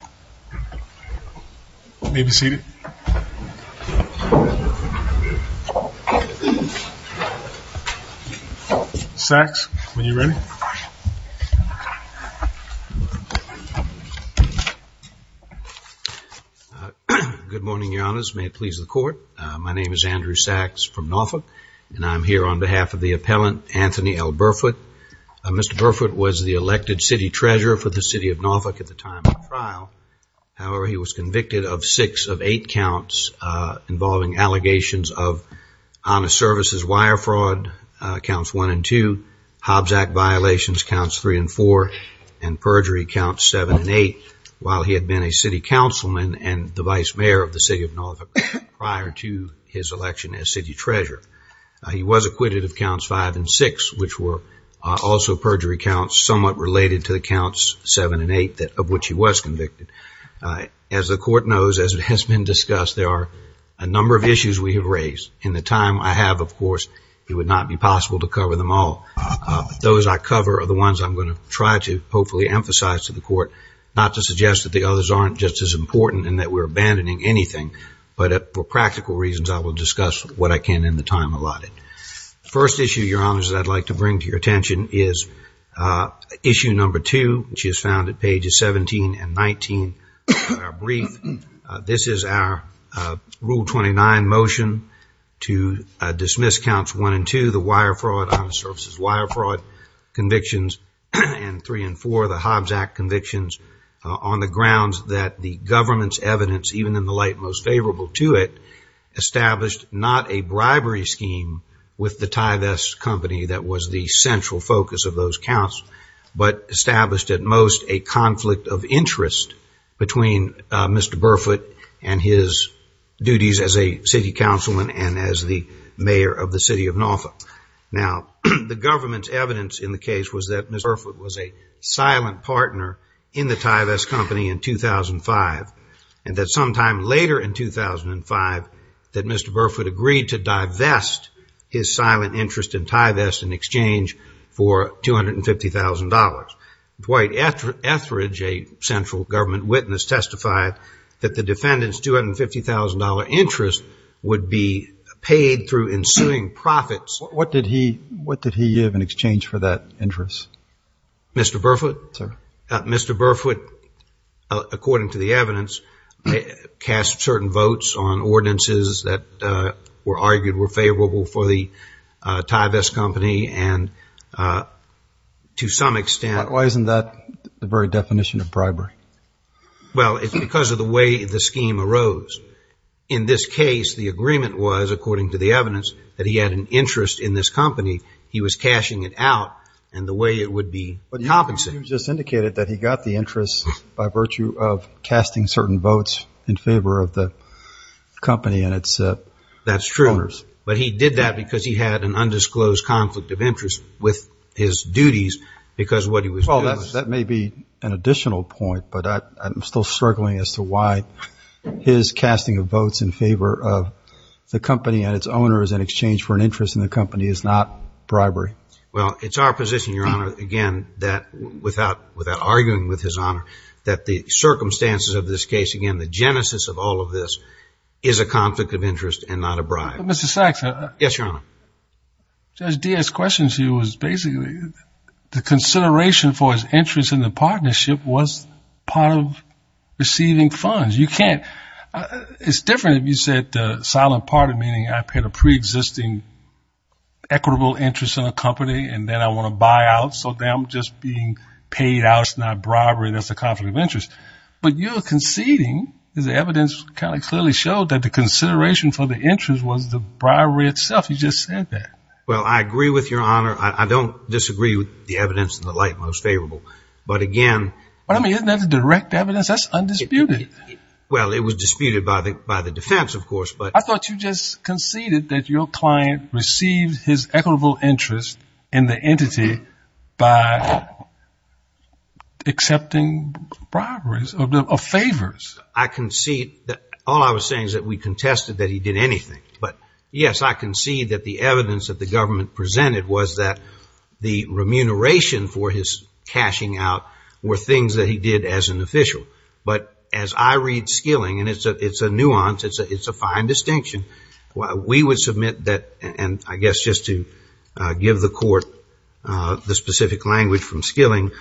Good morning, your honors. May it please the court. My name is Andrew Sachs from Norfolk, and I'm here on behalf of the appellant, Anthony L. Burfoot. Mr. Burfoot was the elected city of Norfolk at the time of the trial. However, he was convicted of six of eight counts involving allegations of honest services wire fraud, counts one and two, Hobbs Act violations, counts three and four, and perjury counts seven and eight, while he had been a city councilman and the vice mayor of the city of Norfolk prior to his election as city treasurer. He was acquitted of counts five and six, which were also perjury counts somewhat related to the counts seven and eight of which he was convicted. As the court knows, as it has been discussed, there are a number of issues we have raised. In the time I have, of course, it would not be possible to cover them all. Those I cover are the ones I'm going to try to hopefully emphasize to the court, not to suggest that the others aren't just as important and that we're abandoning anything, but for practical reasons, I will discuss what I can in the time allotted. The first issue, Your Honors, that I'd like to bring to your attention is issue number two, which is found at pages 17 and 19 of our brief. This is our Rule 29 motion to dismiss counts one and two, the wire fraud, honest services wire fraud convictions, and three and four, the Hobbs Act convictions on the grounds that the government's evidence, even in the light most favorable to it, established not a bribery scheme with the Tyvesk Company that was the central focus of those counts, but established at most a conflict of interest between Mr. Burfoot and his duties as a city councilman and as the mayor of the city of Norfolk. Now, the government's evidence in the case was that Mr. Burfoot was a silent partner in the Tyvesk Company in 2005, and that sometime later in 2005 that Mr. Burfoot agreed to divest his silent interest in Tyvesk in exchange for $250,000. Dwight Etheridge, a central government witness, testified that the defendant's $250,000 interest would be paid through ensuing profits. Mr. Burfoot? Sir? Mr. Burfoot, according to the evidence, cast certain votes on ordinances that were argued were favorable for the Tyvesk Company, and to some extent- Why isn't that the very definition of bribery? Well, it's because of the way the scheme arose. In this case, the agreement was, according to the evidence, that he had an interest in this company, he was cashing it out, and the way it would be compensated. But you just indicated that he got the interest by virtue of casting certain votes in favor of the company and its owners. That's true, but he did that because he had an undisclosed conflict of interest with his duties because what he was doing- Well, that may be an additional point, but I'm still struggling as to why his casting of votes in favor of the company and its owners in exchange for an interest in the company is not bribery. Well, it's our position, Your Honor, again, that without arguing with His Honor, that the circumstances of this case, again, the genesis of all of this, is a conflict of interest and not a bribe. Mr. Sachs? Yes, Your Honor? Judge Diaz's question to you was basically the consideration for his interest in the It's different if you said the silent part, meaning I paid a pre-existing equitable interest in a company and then I want to buy out, so then I'm just being paid out, it's not bribery, that's a conflict of interest. But you're conceding, as the evidence kind of clearly showed, that the consideration for the interest was the bribery itself. You just said that. Well, I agree with Your Honor. I don't disagree with the evidence in the light most favorable. But again- I mean, isn't that the direct evidence? That's undisputed. Well, it was disputed by the defense, of course, but- I thought you just conceded that your client received his equitable interest in the entity by accepting bribes or favors. I concede that all I was saying is that we contested that he did anything. But yes, I concede that the evidence that the government presented was that the remuneration for his cashing out were things that he did as an official. But as I read Skilling, and it's a nuance, it's a fine distinction, we would submit that, and I guess just to give the court the specific language from Skilling,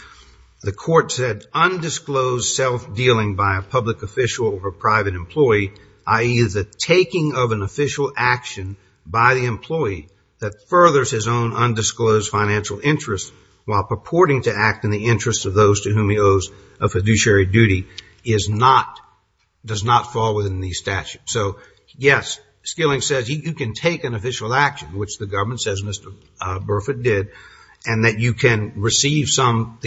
the court said, undisclosed self-dealing by a public official or a private employee, i.e., the taking of an official action by the employee that furthers his own undisclosed financial interest while purporting to act in the interest of those to whom he owes a fiduciary duty does not fall within these statutes. So yes, Skilling says you can take an official action, which the government says Mr. Burford did, and that you can receive some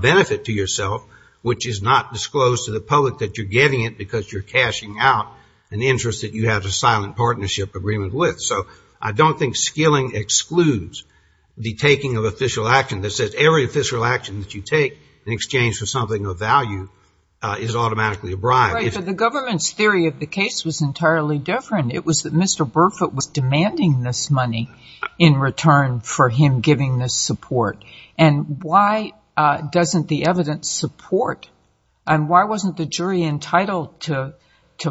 benefit to yourself, which is not disclosed to the public that you're getting it because you're cashing out an interest that you have a silent partnership agreement with. So I don't think Skilling excludes the taking of official action that says every official action that you take in exchange for something of value is automatically a bribe. Right, but the government's theory of the case was entirely different. It was that Mr. Burford was demanding this money in return for him giving this support. And why doesn't the evidence support, and why wasn't the jury entitled to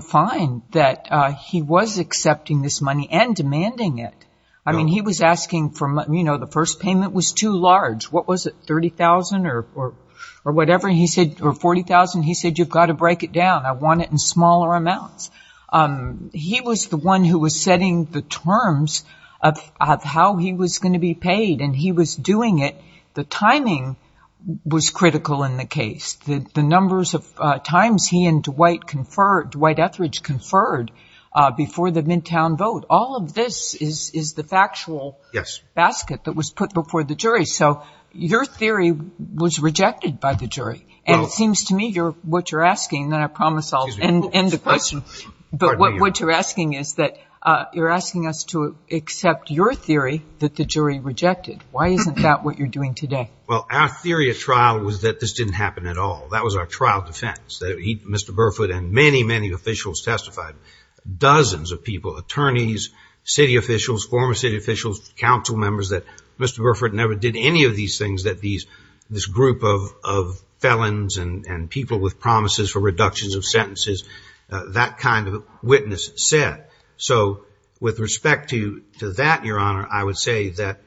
find that he was accepting this money and demanding it? I mean, he was asking for, you know, the first payment was too large. What was it, $30,000 or whatever? He said, or $40,000? He said, you've got to break it down. I want it in smaller amounts. He was the one who was setting the terms of how he was going to be paid, and he was doing it. The timing was critical in the case. The numbers of times he and Dwight Etheridge conferred before the Midtown vote, all of this is the factual basket that was put before the jury. So your theory was rejected by the jury, and it seems to me what you're asking, and I promise I'll end the question, but what you're asking is that you're asking us to accept your theory that the jury rejected. Why isn't that what you're doing today? Well, our theory of trial was that this didn't happen at all. That was our trial defense, that Mr. Burford and many, many officials testified, dozens of people, attorneys, city officials, former city officials, council members, that Mr. Burford never did any of these things that this group of felons and people with promises for reductions of sentences, that kind of witness said. So with respect to that, Your Honor, I would say that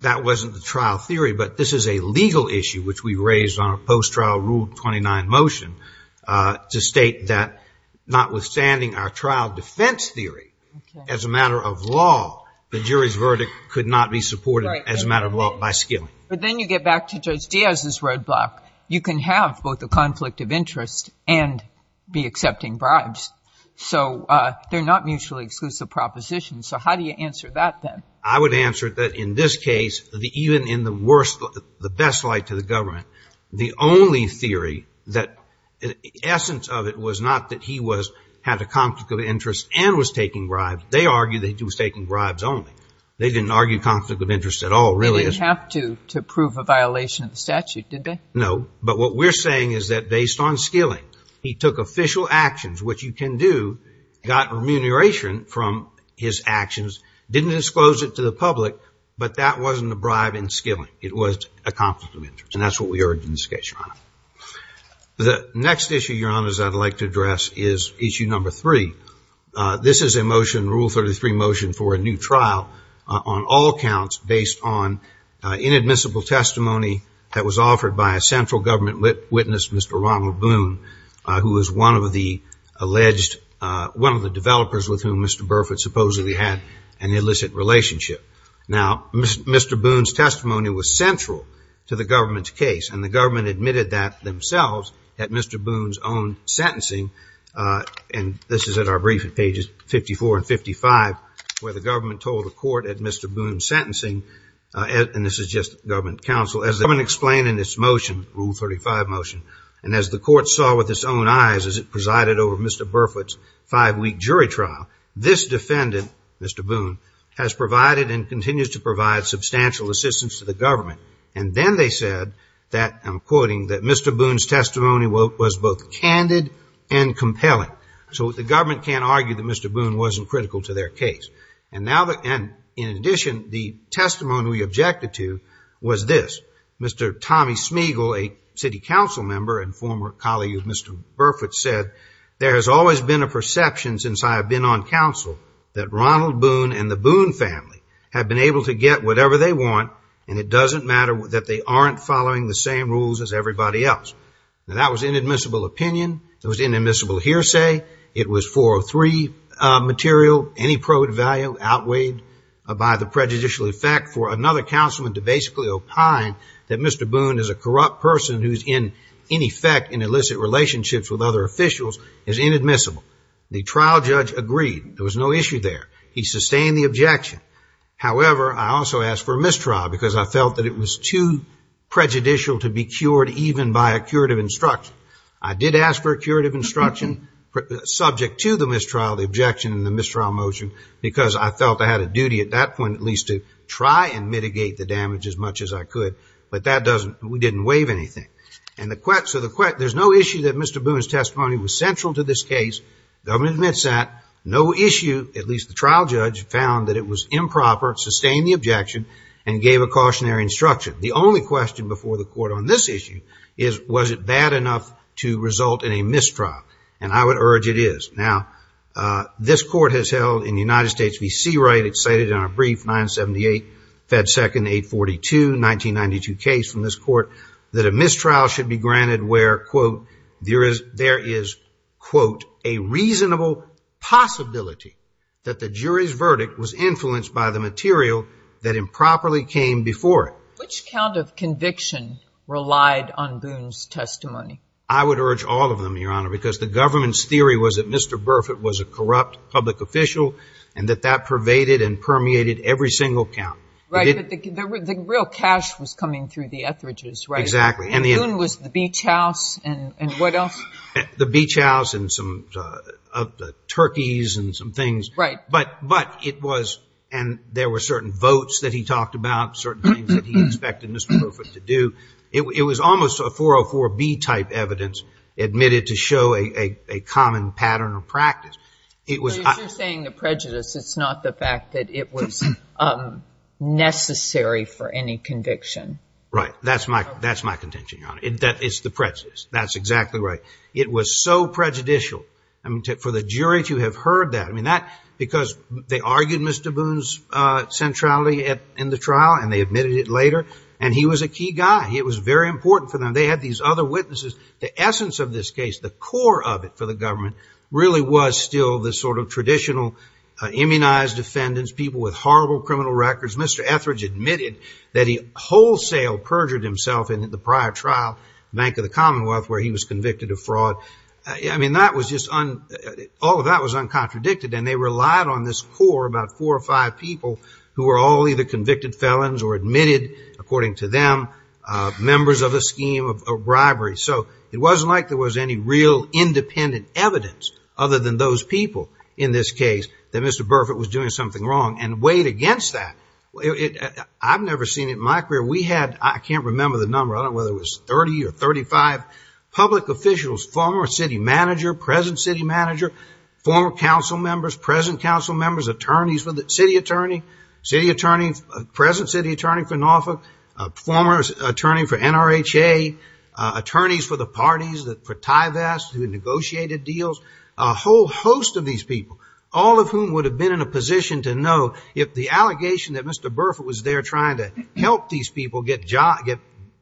that wasn't the trial theory, but this is a legal issue which we raised on a post-trial Rule 29 motion to state that notwithstanding our trial defense theory, as a matter of law, the jury's verdict could not be supported as a matter of law by skilling. But then you get back to Judge Diaz's roadblock. You can have both a conflict of interest and be accepting bribes. So they're not mutually exclusive propositions. So how do you answer that then? I would answer that in this case, even in the worst, the best light to the government, the only theory, the essence of it was not that he had a conflict of interest and was taking bribes. They argued that he was taking bribes only. They didn't argue conflict of interest at all, really. He didn't have to prove a violation of the statute, did they? No. But what we're saying is that based on skilling, he took official actions, which you can do, got remuneration from his actions, didn't disclose it to the public, but that wasn't a bribe in skilling. It was a conflict of interest. And that's what we heard in this case, Your Honor. The next issue, Your Honors, I'd like to address is issue number three. This is a motion, Rule 33 motion, for a new trial on all counts based on inadmissible testimony that was offered by a central government witness, Mr. Ronald Bloom, who was one of the alleged, one of the developers with whom Mr. Burford supposedly had an illicit relationship. Now, Mr. Boone's testimony was central to the government's case, and the government admitted that themselves at Mr. Boone's own sentencing. And this is at our brief at pages 54 and 55, where the government told the court at Mr. Boone's sentencing, and this is just government counsel, as the government explained in its motion, Rule 35 motion. And as the court saw with its own eyes as it presided over Mr. Burford's five-week jury trial, this defendant, Mr. Boone, has provided and continues to provide substantial assistance to the government. And then they said that, I'm quoting, that Mr. Boone's testimony was both candid and compelling. So the government can't argue that Mr. Boone wasn't critical to their case. And now, in addition, the testimony we objected to was this. Mr. Tommy Smeagol, a city council member and former colleague of Mr. Burford, said, there has always been a perception since I have been on counsel that Ronald Boone and the Boone family have been able to get whatever they want, and it doesn't matter that they aren't following the same rules as everybody else. Now, that was inadmissible opinion. It was inadmissible hearsay. It was 403 material, any probed value outweighed by the prejudicial effect for another councilman to basically opine that Mr. Boone is a corrupt person who is, in effect, in illicit relationships with other officials, is inadmissible. The trial judge agreed. There was no issue there. He sustained the objection. However, I also asked for a mistrial because I felt that it was too prejudicial to be cured even by a curative instruction. I did ask for a curative instruction subject to the mistrial, the objection in the mistrial motion because I felt I had a duty at that point at least to try and mitigate the damage as much as I could, but that doesn't, we didn't waive anything. And the, so the, there's no issue that Mr. Boone's testimony was central to this case. The government admits that. No issue, at least the trial judge, found that it was improper, sustained the objection, and gave a cautionary instruction. The only question before the court on this issue is, was it bad enough to result in a mistrial? And I would urge it is. Now, this court has held in the United States, we see right, it's cited in our brief 978 Fed Second 842, 1992 case from this court, that a mistrial should be granted where, quote, there is, there is, quote, a reasonable possibility that the jury's verdict was influenced by the material that improperly came before it. Which count of conviction relied on Boone's testimony? I would urge all of them, Your Honor, because the government's theory was that Mr. Burfitt was a corrupt public official, and that that pervaded and permeated every single count. Right, but the real cash was coming through the Etheridge's, right? Exactly. And Boone was the beach house, and what else? The beach house, and some turkeys, and some things. Right. But it was, and there were certain votes that he talked about, certain things that he expected Mr. Burfitt to do. It was almost a 404B type evidence admitted to show a common pattern of practice. It was... But you're saying the prejudice, it's not the fact that it was necessary for any conviction. Right, that's my contention, Your Honor. It's the prejudice, that's exactly right. It was so prejudicial, I mean, for the jury to have heard that, I mean, that, because they argued Mr. Boone's centrality in the trial, and they admitted it later, and he was a key guy. It was very important for them. They had these other witnesses. The essence of this case, the core of it for the government, really was still the sort of traditional immunized defendants, people with horrible criminal records. Mr. Etheridge admitted that he wholesale perjured himself in the prior trial, Bank of the Commonwealth, where he was convicted of fraud. I mean, that was just, all of that was uncontradicted, and they relied on this core, about four or five people, who were all either convicted felons or admitted, according to them, members of a scheme of bribery. So it wasn't like there was any real independent evidence, other than those people, in this case, that Mr. Burfitt was doing something wrong, and weighed against that. I've never seen it in my career. We had, I can't remember the number, I don't know whether it was 30 or 35 public officials, former city manager, present city manager, former council members, present council members, attorneys for the, city attorney, city attorney, present city attorney for Norfolk, former attorney for NRHA, attorneys for the parties, for TIVAS, who negotiated deals, a whole host of these people, all of whom would have been in a position to know if the allegation that Mr. Burfitt was there trying to help these people get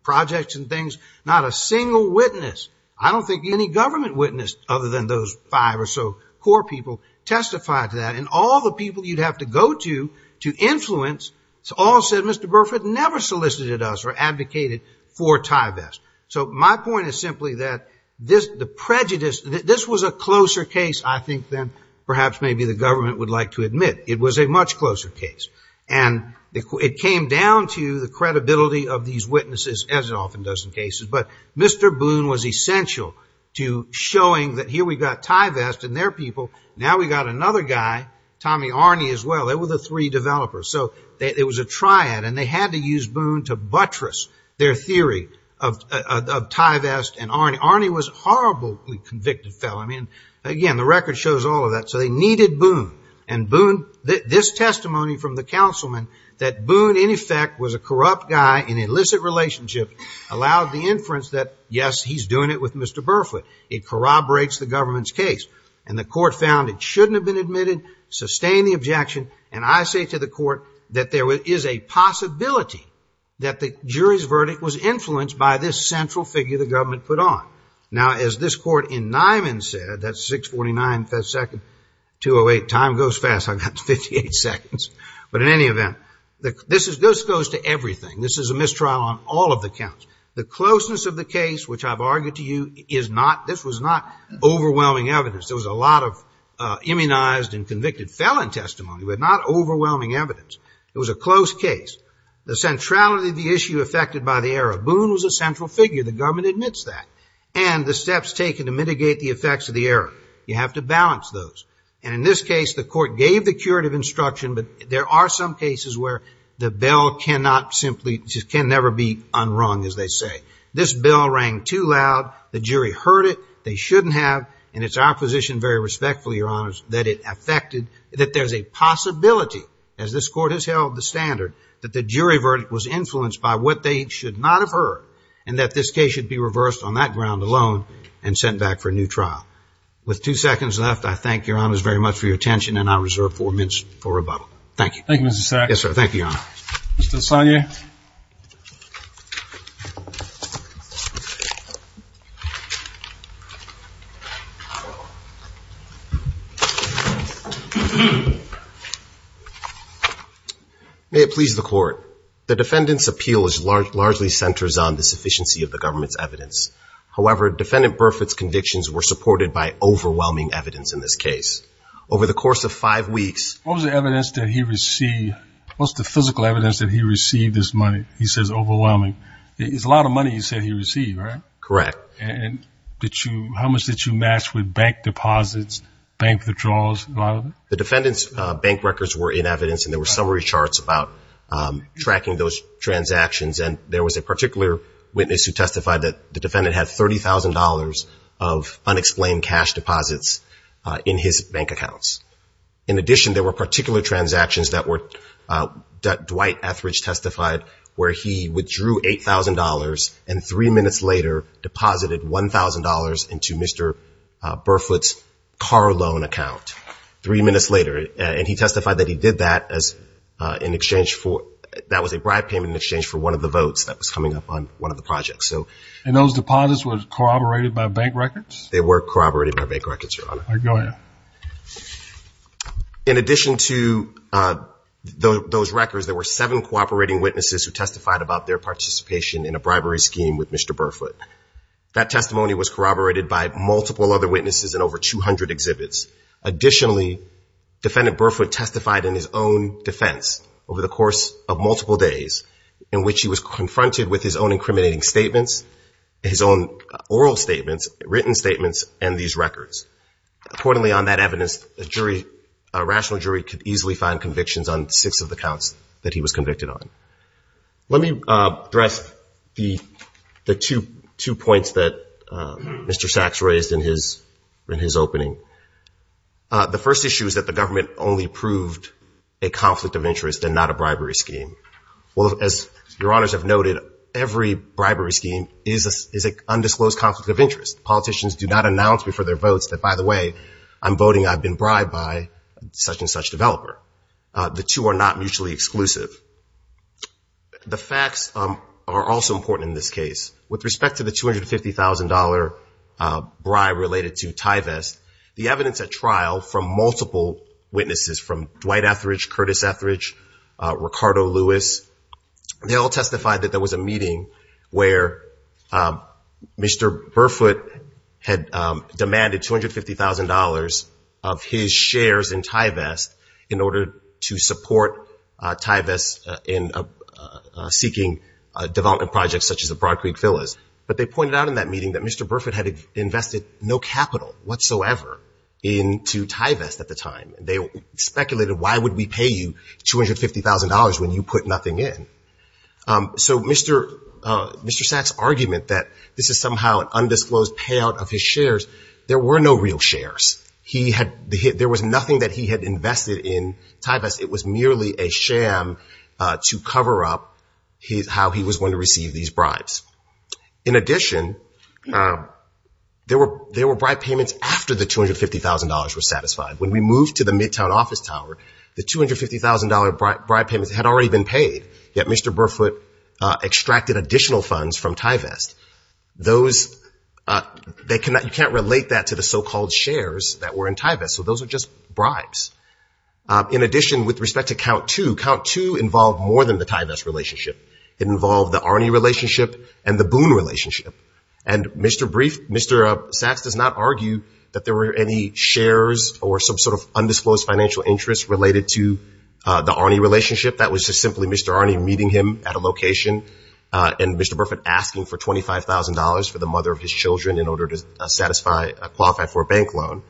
projects and things, not a single witness, I don't think any government witness, other than those five or so core people, testified to that, and all the people you'd have to go to, to influence, all said Mr. Burfitt never solicited us or advocated for TIVAS. So my point is simply that this, the prejudice, this was a closer case, I think, than perhaps maybe the government would like to admit. It was a much closer case. And it came down to the credibility of these witnesses, as it often does in cases. But Mr. Boone was essential to showing that here we got TIVAS and their people, now we got a guy, Tommy Arne, as well, they were the three developers. So it was a triad, and they had to use Boone to buttress their theory of TIVAS and Arne. Arne was a horribly convicted felon, and again, the record shows all of that. So they needed Boone. And Boone, this testimony from the councilman, that Boone, in effect, was a corrupt guy in illicit relationships, allowed the inference that, yes, he's doing it with Mr. Burfitt. It corroborates the government's case. And the court found it shouldn't have been admitted, sustained the objection, and I say to the court that there is a possibility that the jury's verdict was influenced by this central figure the government put on. Now, as this court in Nyman said, that's 649, second 208, time goes fast, I've got 58 seconds. But in any event, this goes to everything. This is a mistrial on all of the counts. The closeness of the case, which I've argued to you, is not, this was not overwhelming evidence. There was a lot of immunized and convicted felon testimony, but not overwhelming evidence. It was a close case. The centrality of the issue affected by the error. Boone was a central figure. The government admits that. And the steps taken to mitigate the effects of the error. You have to balance those. And in this case, the court gave the curative instruction, but there are some cases where the bell cannot simply, can never be unrung, as they say. This bell rang too loud. The jury heard it. They shouldn't have. And it's our position, very respectfully, your honors, that it affected, that there's a possibility, as this court has held the standard, that the jury verdict was influenced by what they should not have heard. And that this case should be reversed on that ground alone, and sent back for a new trial. With two seconds left, I thank your honors very much for your attention, and I reserve four minutes for rebuttal. Thank you. Thank you, Mr. Sack. Yes, sir. Thank you, your honor. Mr. Lasagna? May it please the court. The defendant's appeal largely centers on the sufficiency of the government's evidence. However, Defendant Burfitt's convictions were supported by overwhelming evidence in this case. Over the course of five weeks, what was the evidence that he received, what was the physical evidence that he received this money? He says overwhelming. It's a lot of money he said he received, right? Correct. And did you, how much did you match with bank deposits, bank withdrawals, a lot of it? The defendant's bank records were in evidence, and there were summary charts about tracking those transactions. And there was a particular witness who testified that the defendant had $30,000 of unexplained cash deposits in his bank accounts. In addition, there were particular transactions that Dwight Etheridge testified where he withdrew $8,000 and three minutes later deposited $1,000 into Mr. Burfitt's car loan account. Three minutes later. And he testified that he did that in exchange for, that was a bribe payment in exchange for one of the votes that was coming up on one of the projects. And those deposits were corroborated by bank records? They were corroborated by bank records, your honor. All right, Dwight, go ahead. In addition to those records, there were seven cooperating witnesses who testified about their participation in a bribery scheme with Mr. Burfitt. That testimony was corroborated by multiple other witnesses in over 200 exhibits. Additionally, Defendant Burfitt testified in his own defense over the course of multiple days in which he was confronted with his own incriminating statements, his own oral statements, written statements, and these records. Accordingly, on that evidence, a jury, a rational jury could easily find convictions on six of the counts that he was convicted on. Let me address the two points that Mr. Sachs raised in his opening. The first issue is that the government only proved a conflict of interest and not a bribery scheme. As your honors have noted, every bribery scheme is an undisclosed conflict of interest. Politicians do not announce before their votes that, by the way, I'm voting I've been bribed by such and such developer. The two are not mutually exclusive. The facts are also important in this case. With respect to the $250,000 bribe related to Tyvest, the evidence at trial from multiple witnesses from Dwight Etheridge, Curtis Etheridge, Ricardo Lewis, they all testified that there was a meeting where Mr. Burfitt had demanded $250,000 of his shares in Tyvest in order to support Tyvest in seeking development projects such as the Broad Creek Villas. They pointed out in that meeting that Mr. Burfitt had invested no capital whatsoever into Tyvest at the time. They speculated why would we pay you $250,000 when you put nothing in. So Mr. Sachs' argument that this is somehow an undisclosed payout of his shares, there were no real shares. There was nothing that he had invested in Tyvest. It was merely a sham to cover up how he was going to receive these bribes. In addition, there were bribe payments after the $250,000 was satisfied. When we moved to the Midtown office tower, the $250,000 bribe payments had already been paid, yet Mr. Burfitt extracted additional funds from Tyvest. You can't relate that to the so-called shares that were in Tyvest, so those are just bribes. In addition, with respect to count two, count two involved more than the Tyvest relationship. It involved the Arnie relationship and the Boone relationship. And Mr. Sachs does not argue that there were any shares or some sort of undisclosed financial interest related to the Arnie relationship. That was just simply Mr. Arnie meeting him at a location and Mr. Burfitt asking for $25,000 for the mother of his children in order to qualify for a bank loan.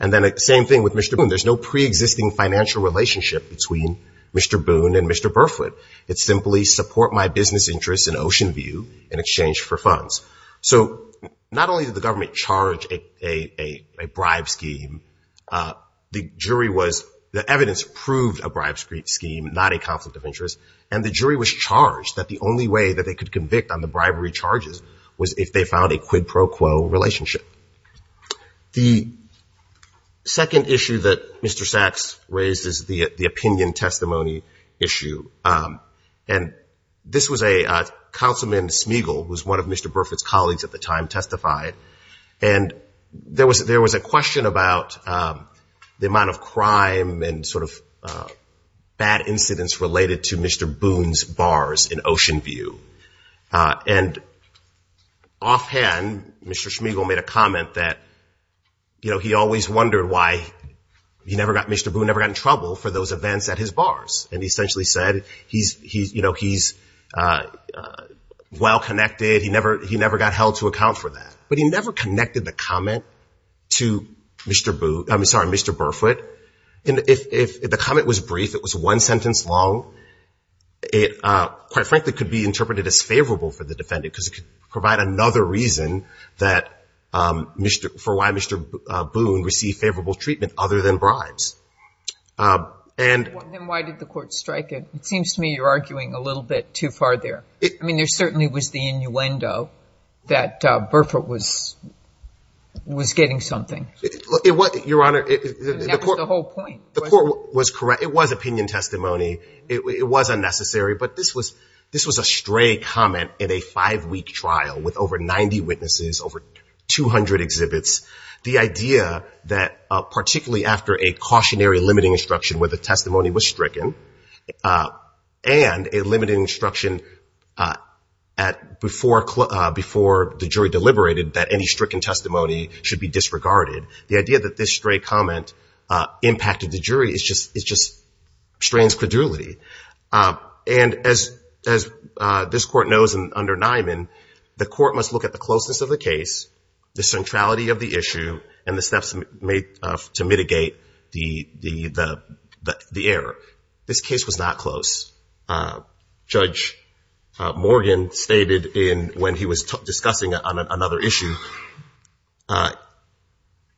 And then the same thing with Mr. Boone. There's no pre-existing financial relationship between Mr. Boone and Mr. Burfitt. It's simply support my business interests in Oceanview in exchange for funds. So not only did the government charge a bribe scheme, the jury was, the evidence proved a bribe scheme, not a conflict of interest, and the jury was charged that the only way that they could convict on the bribery charges was if they found a quid pro quo relationship. The second issue that Mr. Sachs raised is the opinion testimony issue. And this was a, Councilman Schmeigel, who was one of Mr. Burfitt's colleagues at the time, testified. And there was a question about the amount of crime and sort of bad incidents related to Mr. Boone's bars in Oceanview. And offhand, Mr. Schmeigel made a comment that, you know, he always wondered why he never got, Mr. Boone never got in trouble for those events at his bars. And he essentially said, he's, you know, he's well-connected, he never got held to account for that. But he never connected the comment to Mr. Boone, I'm sorry, Mr. Burfitt. And if the comment was brief, it was one sentence long, it quite frankly could be interpreted as favorable for the defendant because it could provide another reason that, for why Mr. Boone received favorable treatment other than bribes. And then why did the court strike it? It seems to me you're arguing a little bit too far there. I mean, there certainly was the innuendo that Burfitt was getting something. Your Honor, the court was correct. It was opinion testimony. It was unnecessary. But this was a stray comment in a five-week trial with over 90 witnesses, over 200 exhibits. The idea that particularly after a cautionary limiting instruction where the testimony was stricken and a limiting instruction before the jury deliberated that any stricken testimony should be disregarded. The idea that this stray comment impacted the jury is just, it just strains credulity. And as this court knows under Nyman, the court must look at the closeness of the case, the centrality of the issue, and the steps made to mitigate the error. This case was not close. As Judge Morgan stated when he was discussing another issue,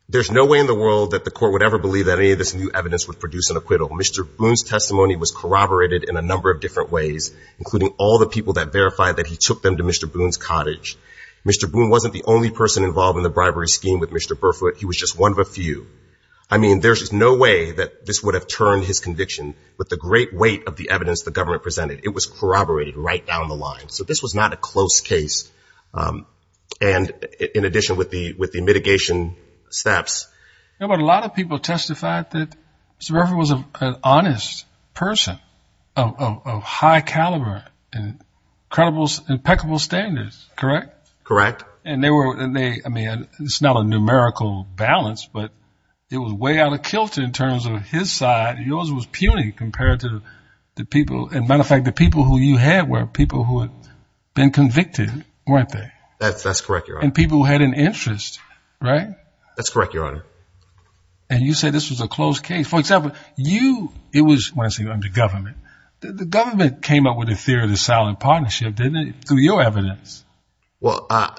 there's no way in the world that the court would ever believe that any of this new evidence would produce an acquittal. Mr. Boone's testimony was corroborated in a number of different ways, including all the people that verified that he took them to Mr. Boone's cottage. Mr. Boone wasn't the only person involved in the bribery scheme with Mr. Burfitt. He was just one of a few. I mean, there's no way that this would have turned his conviction with the great weight of the evidence the government presented. It was corroborated right down the line. So this was not a close case. And in addition with the mitigation steps. But a lot of people testified that Mr. Burfitt was an honest person of high caliber and credible, impeccable standards, correct? Correct. And they were, I mean, it's not a numerical balance, but it was way out of kilter in terms of his side. Yours was puny compared to the people. And matter of fact, the people who you had were people who had been convicted, weren't they? That's correct. You're on people who had an interest, right? That's correct, Your Honor. And you said this was a close case. For example, you, it was, when I say under government, the government came up with a theory of the silent partnership, didn't it? Through your evidence. Well, uh,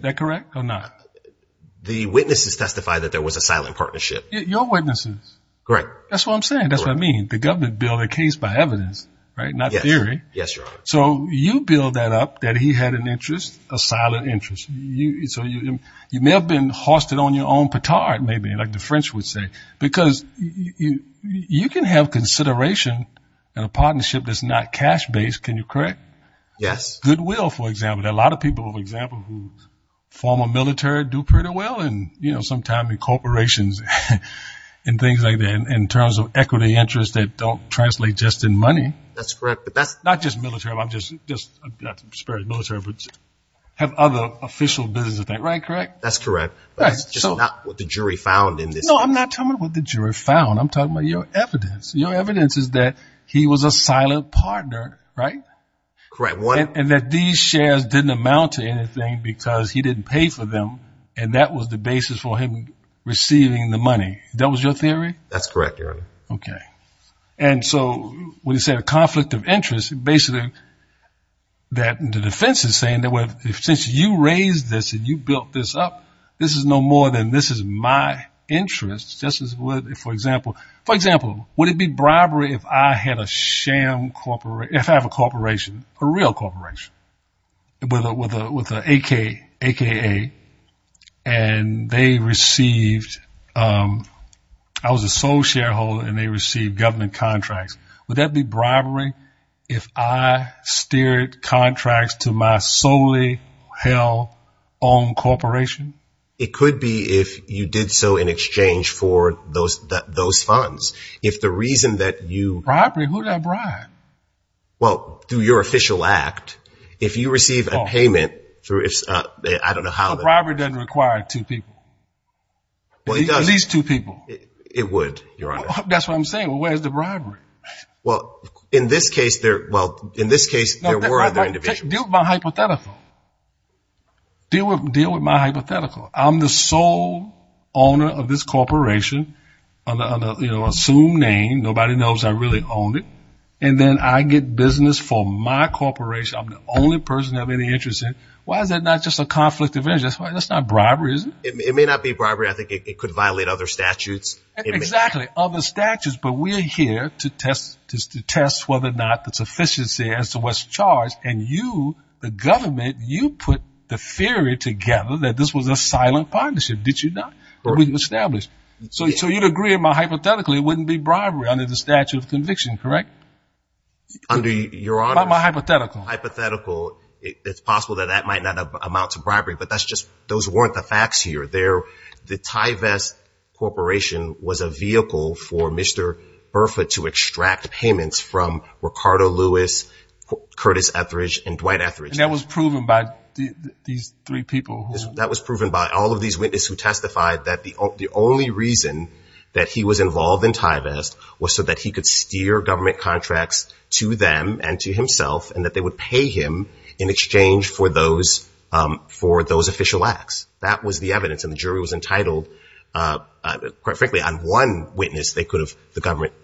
that correct or not? The witnesses testified that there was a silent partnership. Your witnesses. Correct. That's what I'm saying. That's what I mean. The government built a case by evidence, right? Yes. Not theory. Yes, Your Honor. So you build that up that he had an interest, a silent interest. So you may have been hoisted on your own petard, maybe, like the French would say. Because you can have consideration in a partnership that's not cash-based, can you correct? Yes. Goodwill, for example. There are a lot of people, for example, who form a military, do pretty well, and you know, they spend some time in corporations and things like that in terms of equity interests that don't translate just in money. That's correct. But that's not just military. I'm just, just not to disparage military, but have other official business, right, correct? That's correct. But that's just not what the jury found in this case. No, I'm not talking about what the jury found. I'm talking about your evidence. Your evidence is that he was a silent partner, right? Correct. And that these shares didn't amount to anything because he didn't pay for them. And that was the basis for him receiving the money. That was your theory? That's correct, Your Honor. Okay. And so, when you say a conflict of interest, basically, the defense is saying that since you raised this and you built this up, this is no more than, this is my interest, just as with, for example, for example, would it be bribery if I had a sham, if I have a corporation, a real corporation, with an AKA, and they received, I was a sole shareholder, and they received government contracts, would that be bribery if I steered contracts to my solely held own corporation? It could be if you did so in exchange for those funds. If the reason that you- Bribery? Who'd I bribe? Well, through your official act, if you receive a payment through, I don't know how- A bribery doesn't require two people. Well, it does. At least two people. It would, Your Honor. That's what I'm saying. Well, where's the bribery? Well, in this case, there, well, in this case, there were other individuals. Deal with my hypothetical. Deal with my hypothetical. I'm the sole owner of this corporation, you know, assumed name, nobody knows I really own it, and then I get business for my corporation, I'm the only person they have any interest in. Why is that not just a conflict of interest? That's not bribery, is it? It may not be bribery. I think it could violate other statutes. Exactly, other statutes, but we're here to test whether or not the sufficiency as to what's charged, and you, the government, you put the theory together that this was a silent partnership, did you not? That we established. So you'd agree with my hypothetical, it wouldn't be bribery under the statute of conviction, correct? Under your honor's hypothetical, it's possible that that might not amount to bribery, but that's just, those weren't the facts here. The Tyvest Corporation was a vehicle for Mr. Burford to extract payments from Ricardo Lewis, Curtis Etheridge, and Dwight Etheridge. And that was proven by these three people? That was proven by all of these witnesses who testified that the only reason that he was involved in Tyvest was so that he could steer government contracts to them and to himself and that they would pay him in exchange for those official acts. That was the evidence, and the jury was entitled, quite frankly, on one witness the government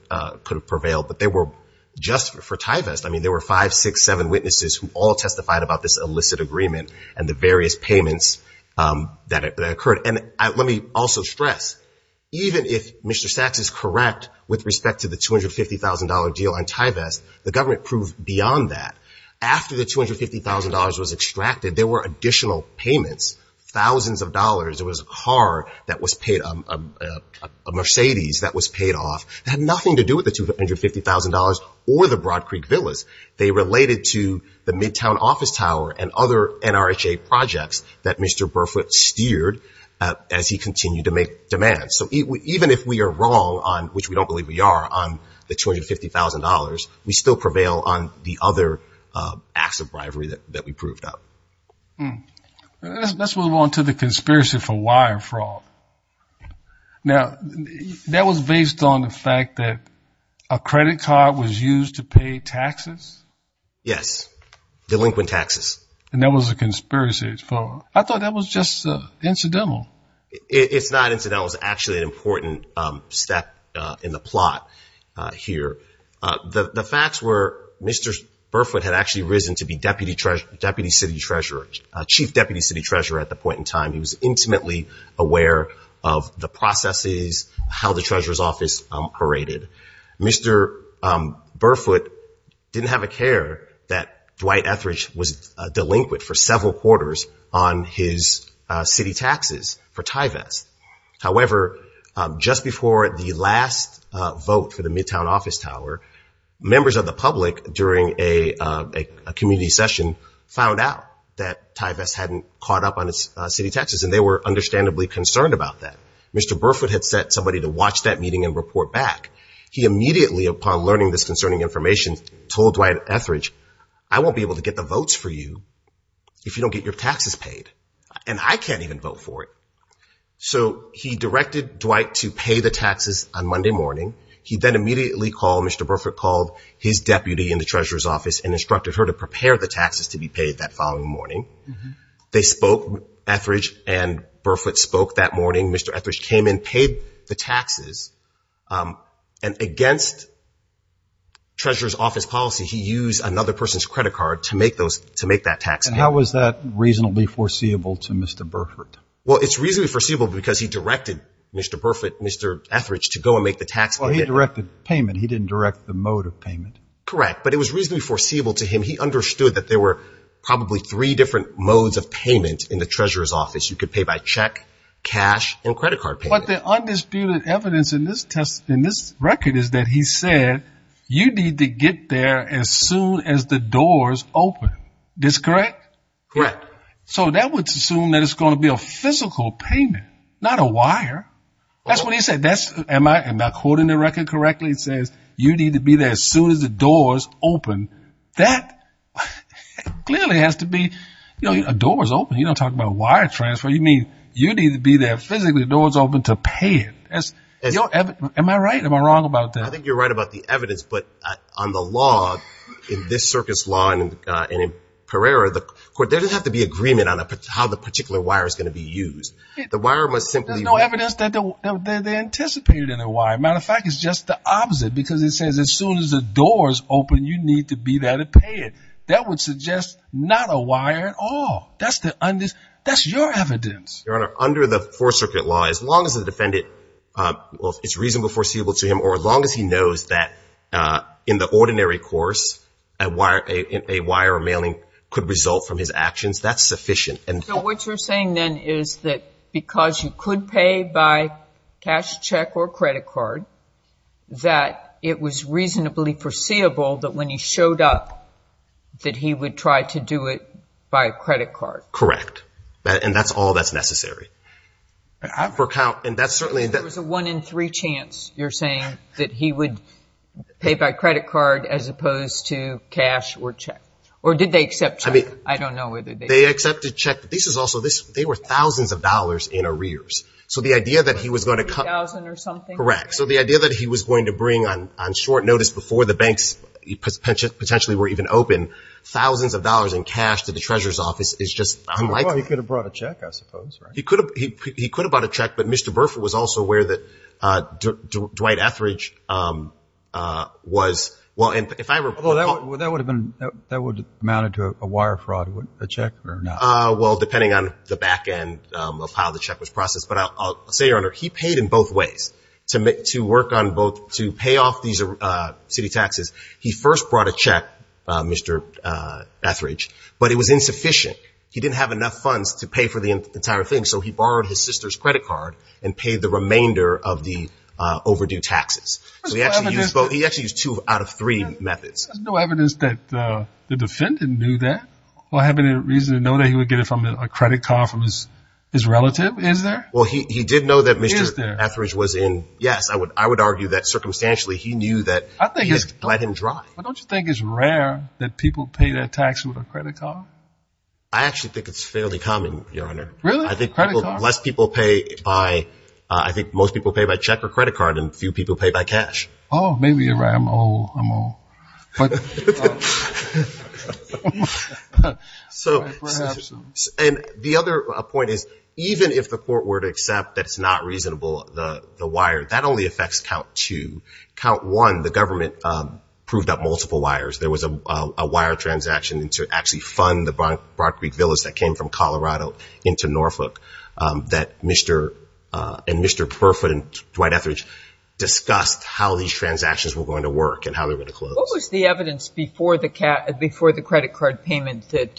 could have prevailed, but they were, just for Tyvest, there were five, six, seven witnesses who all testified about this illicit agreement and the various payments that occurred. And let me also stress, even if Mr. Sachs is correct with respect to the $250,000 deal on Tyvest, the government proved beyond that. After the $250,000 was extracted, there were additional payments, thousands of dollars. There was a car that was paid, a Mercedes that was paid off. It had nothing to do with the $250,000 or the Broad Creek Villas. They related to the Midtown office tower and other NRHA projects that Mr. Burfoot steered as he continued to make demands. So even if we are wrong on, which we don't believe we are, on the $250,000, we still prevail on the other acts of bribery that we proved up. Let's move on to the conspiracy for wire fraud. Now, that was based on the fact that a credit card was used to pay taxes? Yes. Delinquent taxes. And that was a conspiracy. I thought that was just incidental. It's not incidental. It was actually an important step in the plot here. The facts were Mr. Burfoot had actually risen to be deputy city treasurer, chief deputy city treasurer at the point in time. He was intimately aware of the processes, how the treasurer's office paraded. Mr. Burfoot didn't have a care that Dwight Etheridge was a delinquent for several quarters on his city taxes for Tyvest. However, just before the last vote for the Midtown office tower, members of the public during a community session found out that Tyvest hadn't caught up on its city taxes, and they were understandably concerned about that. Mr. Burfoot had sent somebody to watch that meeting and report back. He immediately, upon learning this concerning information, told Dwight Etheridge, I won't be able to get the votes for you if you don't get your taxes paid. And I can't even vote for it. So he directed Dwight to pay the taxes on Monday morning. He then immediately called, Mr. Burfoot called his deputy in the treasurer's office and instructed her to prepare the taxes to be paid that following morning. They spoke, Etheridge and Burfoot spoke that morning. Mr. Etheridge came in, paid the taxes, and against treasurer's office policy, he used another person's credit card to make that tax payment. And how was that reasonably foreseeable to Mr. Burfoot? Well, it's reasonably foreseeable because he directed Mr. Burfoot, Mr. Etheridge, to go and make the tax payment. Well, he directed payment. He didn't direct the mode of payment. Correct. But it was reasonably foreseeable to him. He understood that there were probably three different modes of payment in the treasurer's office. You could pay by check, cash, and credit card payment. But the undisputed evidence in this test, in this record, is that he said you need to get there as soon as the doors open. This correct? Correct. So that would assume that it's going to be a physical payment, not a wire. That's what he said. Am I quoting the record correctly? It says you need to be there as soon as the doors open. That clearly has to be a doors open. You don't talk about wire transfer. You mean you need to be there physically, doors open, to pay it. Am I right? Am I wrong about that? I think you're right about the evidence. But on the law, in this circuit's law and in Pereira, there doesn't have to be agreement on how the particular wire is going to be used. There's no evidence that they anticipated in the wire. Matter of fact, it's just the opposite. Because it says as soon as the doors open, you need to be there to pay it. That would suggest not a wire at all. That's your evidence. Your Honor, under the Fourth Circuit law, as long as the defendant, it's reasonably foreseeable to him, or as long as he knows that in the ordinary course, a wire or mailing could result from his actions, that's sufficient. So what you're saying, then, is that because you could pay by cash, check, or credit card, that it was reasonably foreseeable that when he showed up, that he would try to do it by credit card. Correct. And that's all that's necessary. There was a one in three chance, you're saying, that he would pay by credit card as opposed to cash or check. Or did they accept check? I don't know whether they did. They accepted check. This is also, they were thousands of dollars in arrears. So the idea that he was going to come. A thousand or something. Correct. So the idea that he was going to bring on short notice before the banks potentially were even open, thousands of dollars in cash to the Treasurer's Office is just unlikely. He could have brought a check, I suppose. He could have brought a check, but Mr. Burford was also aware that Dwight Etheridge was. That would have amounted to a wire fraud, a check or not? Well, depending on the back end of how the check was processed. But I'll say, Your Honor, he paid in both ways to pay off these city taxes. He first brought a check, Mr. Etheridge, but it was insufficient. He didn't have enough funds to pay for the entire thing, so he borrowed his sister's credit card and paid the remainder of the overdue taxes. So he actually used two out of three methods. There's no evidence that the defendant knew that. Or have any reason to know that he would get it from a credit card from his relative, is there? Well, he did know that Mr. Etheridge was in. Yes, I would argue that circumstantially he knew that he had let him drive. Don't you think it's rare that people pay their taxes with a credit card? I actually think it's fairly common, Your Honor. Really? I think most people pay by check or credit card, and few people pay by cash. Oh, maybe you're right. I'm old. I'm old. And the other point is, even if the court were to accept that it's not reasonable, the wire, that only affects count two. Count one, the government proved up multiple wires. There was a wire transaction to actually fund the Broad Creek Villas that came from Colorado into Norfolk that Mr. Burfoot and Dwight Etheridge discussed how these transactions were going to work and how they were going to close. What was the evidence before the credit card payment that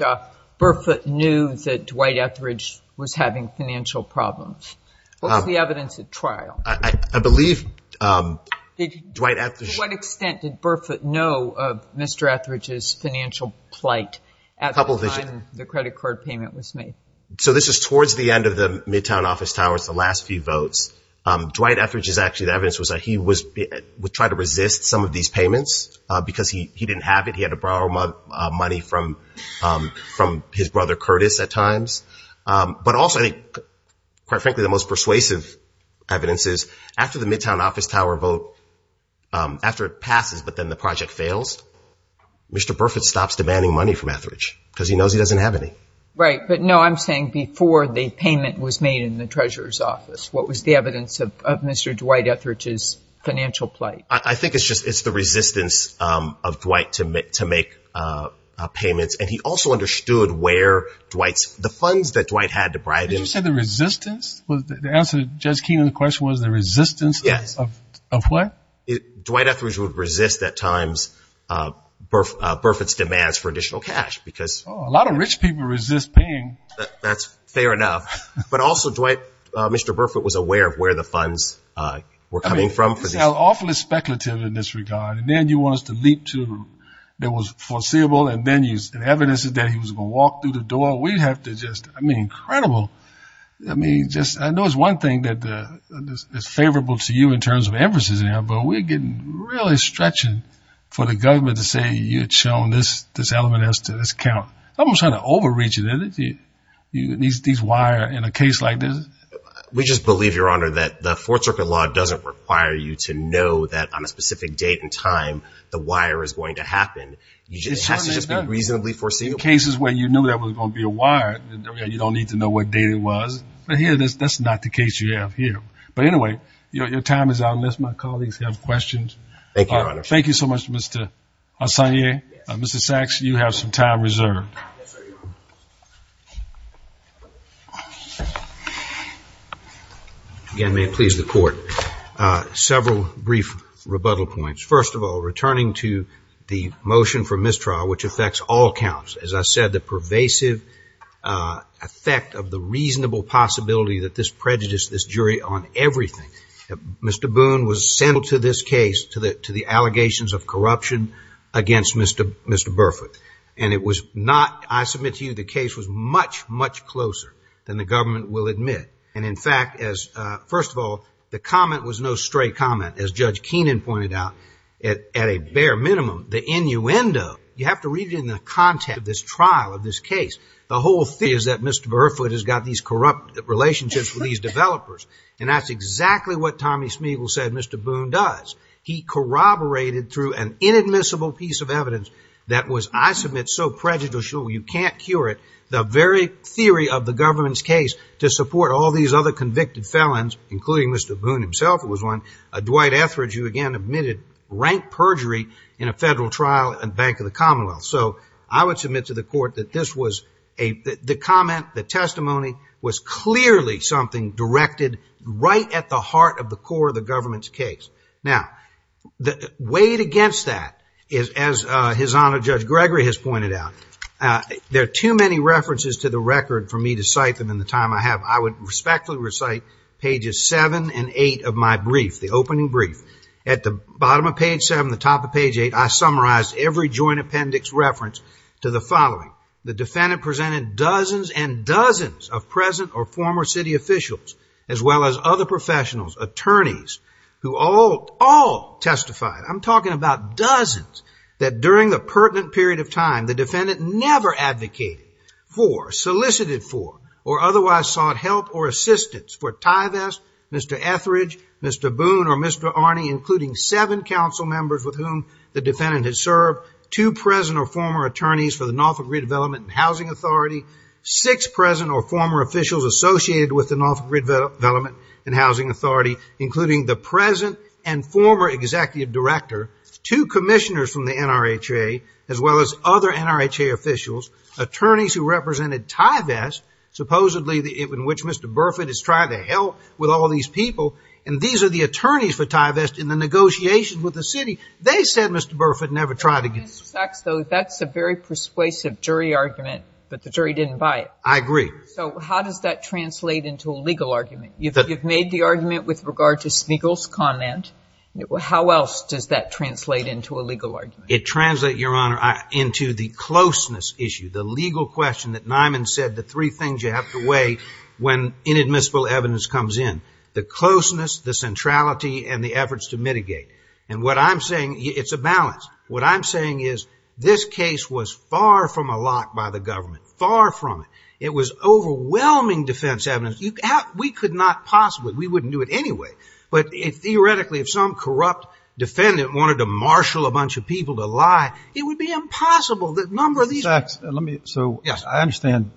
Burfoot knew that Dwight Etheridge was having financial problems? What was the evidence at trial? I believe Dwight Etheridge. To what extent did Burfoot know of Mr. Etheridge's financial plight at the time the credit card payment was made? So this is towards the end of the Midtown Office Tower. It's the last few votes. Dwight Etheridge's actual evidence was that he would try to resist some of these payments because he didn't have it. He had to borrow money from his brother, Curtis, at times. But also, quite frankly, the most persuasive evidence is after the Midtown Office Tower vote, after it passes but then the project fails, Mr. Burfoot stops demanding money from Etheridge because he knows he doesn't have any. Right. But, no, I'm saying before the payment was made in the Treasurer's Office. What was the evidence of Mr. Dwight Etheridge's financial plight? I think it's just the resistance of Dwight to make payments. And he also understood where Dwight's – the funds that Dwight had to bribe him. Did you say the resistance? The answer to Jez Keenan's question was the resistance of what? Dwight Etheridge would resist at times Burfoot's demands for additional cash because – A lot of rich people resist paying. That's fair enough. But also, Dwight, Mr. Burfoot was aware of where the funds were coming from. This is awfully speculative in this regard. And then you want us to leap to what was foreseeable and evidence that he was going to walk through the door. We have to just – I mean, incredible. I mean, I know it's one thing that is favorable to you in terms of emphasis, but we're getting really stretching for the government to say, maybe you had shown this element as to discount. I'm trying to overreach it. These wire in a case like this. We just believe, Your Honor, that the Fourth Circuit law doesn't require you to know that on a specific date and time the wire is going to happen. It has to just be reasonably foreseeable. In cases where you knew there was going to be a wire, you don't need to know what date it was. But here, that's not the case you have here. Thank you, Your Honor. Thank you so much, Mr. Hassanier. Mr. Sachs, you have some time reserved. Again, may it please the Court. Several brief rebuttal points. First of all, returning to the motion for mistrial, which affects all counts. As I said, the pervasive effect of the reasonable possibility that this prejudiced this jury on everything. Mr. Boone was sent to this case to the allegations of corruption against Mr. Burfoot. And it was not, I submit to you, the case was much, much closer than the government will admit. And in fact, first of all, the comment was no stray comment. As Judge Keenan pointed out, at a bare minimum, the innuendo, you have to read it in the context of this trial, of this case. The whole thing is that Mr. Burfoot has got these corrupt relationships with these developers. And that's exactly what Tommy Smeagol said Mr. Boone does. He corroborated through an inadmissible piece of evidence that was, I submit, so prejudicial you can't cure it. The very theory of the government's case to support all these other convicted felons, including Mr. Boone himself, it was one, Dwight Etheridge, who again admitted rank perjury in a federal trial at the Bank of the Commonwealth. So I would submit to the court that this was, the comment, the testimony, was clearly something directed right at the heart of the core of the government's case. Now, weighed against that, as His Honor Judge Gregory has pointed out, there are too many references to the record for me to cite them in the time I have. I would respectfully recite pages seven and eight of my brief, the opening brief. At the bottom of page seven, the top of page eight, I summarized every joint appendix reference to the following. The defendant presented dozens and dozens of present or former city officials, as well as other professionals, attorneys, who all testified, I'm talking about dozens, that during the pertinent period of time the defendant never advocated for, solicited for, or otherwise sought help or assistance for Tyvest, Mr. Etheridge, Mr. Boone, or Mr. Arney, including seven council members with whom the defendant had served, two present or former attorneys for the Norfolk Redevelopment and Housing Authority, six present or former officials associated with the Norfolk Redevelopment and Housing Authority, including the present and former executive director, two commissioners from the NRHA, as well as other NRHA officials, attorneys who represented Tyvest, supposedly in which Mr. Burford has tried to help with all these people, and these are the attorneys for Tyvest in the negotiations with the city. They said Mr. Burford never tried to get the city. Mr. Sachs, though, that's a very persuasive jury argument, but the jury didn't buy it. I agree. So how does that translate into a legal argument? You've made the argument with regard to Spiegel's comment. How else does that translate into a legal argument? It translates, Your Honor, into the closeness issue, the legal question that Nyman said the three things you have to weigh when inadmissible evidence comes in, the closeness, the centrality, and the efforts to mitigate. And what I'm saying, it's a balance. What I'm saying is this case was far from a lot by the government, far from it. It was overwhelming defense evidence. We could not possibly, we wouldn't do it anyway, but theoretically if some corrupt defendant wanted to marshal a bunch of people to lie, it would be impossible. Sachs, let me, so I understand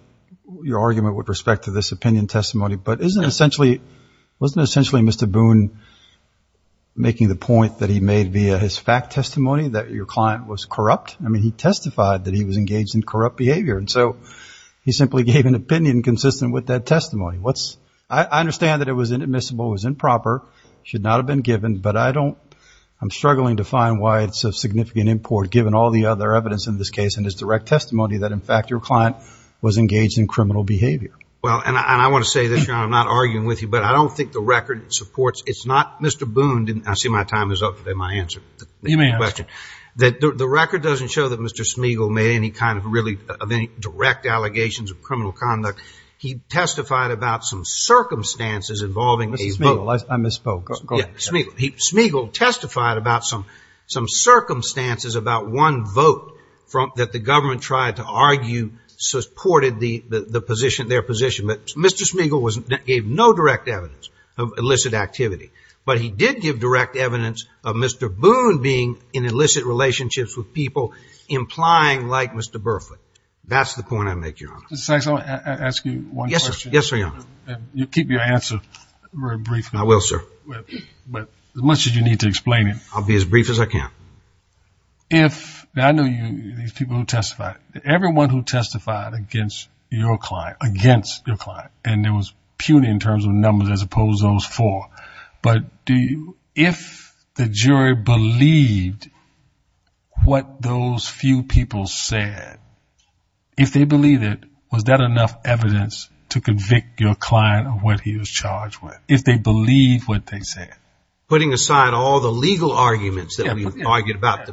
your argument with respect to this opinion testimony, but isn't essentially, wasn't essentially Mr. Boone making the point that he made via his fact testimony that your client was corrupt? I mean, he testified that he was engaged in corrupt behavior, and so he simply gave an opinion consistent with that testimony. What's, I understand that it was inadmissible, it was improper, should not have been given, but I don't, I'm struggling to find why it's of significant import, given all the other evidence in this case and his direct testimony that, in fact, your client was engaged in criminal behavior. Well, and I want to say this, Your Honor, I'm not arguing with you, but I don't think the record supports, it's not, Mr. Boone didn't, I see my time is up today, my answer. You may ask. The record doesn't show that Mr. Smigel made any kind of really, of any direct allegations of criminal conduct. He testified about some circumstances involving a vote. Mr. Smigel, I misspoke. Go ahead. Smigel testified about some circumstances about one vote that the government tried to argue supported the position, their position, but Mr. Smigel gave no direct evidence of illicit activity, but he did give direct evidence of Mr. Boone being in illicit relationships with people implying like Mr. Burfoot. That's the point I make, Your Honor. Mr. Sykes, I want to ask you one question. Yes, sir, Your Honor. You keep your answer very brief. I will, sir. But as much as you need to explain it. I'll be as brief as I can. If, I know these people who testified, everyone who testified against your client, against your client, and there was puny in terms of numbers as opposed to those four, but if the jury believed what those few people said, if they believed it, was that enough evidence to convict your client of what he was charged with, if they believed what they said? Putting aside all the legal arguments that we've argued about,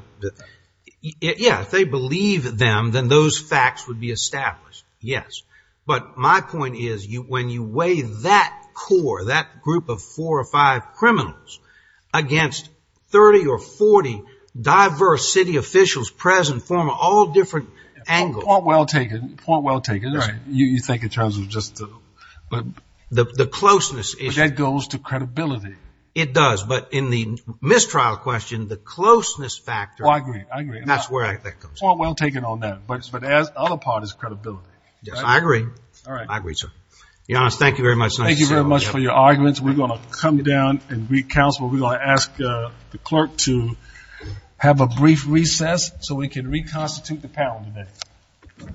yeah, if they believed them, then those facts would be established, yes. But my point is when you weigh that core, that group of four or five criminals, against 30 or 40 diverse city officials present from all different angles. Point well taken. Point well taken. Right. You think in terms of just the. The closeness issue. But that goes to credibility. It does, but in the mistrial question, the closeness factor. Oh, I agree. I agree. That's where that comes from. Point well taken on that. But the other part is credibility. I agree. I agree, sir. Giannis, thank you very much. Thank you very much for your arguments. We're going to come down and re-counsel. We're going to ask the clerk to have a brief recess so we can reconstitute the panel today.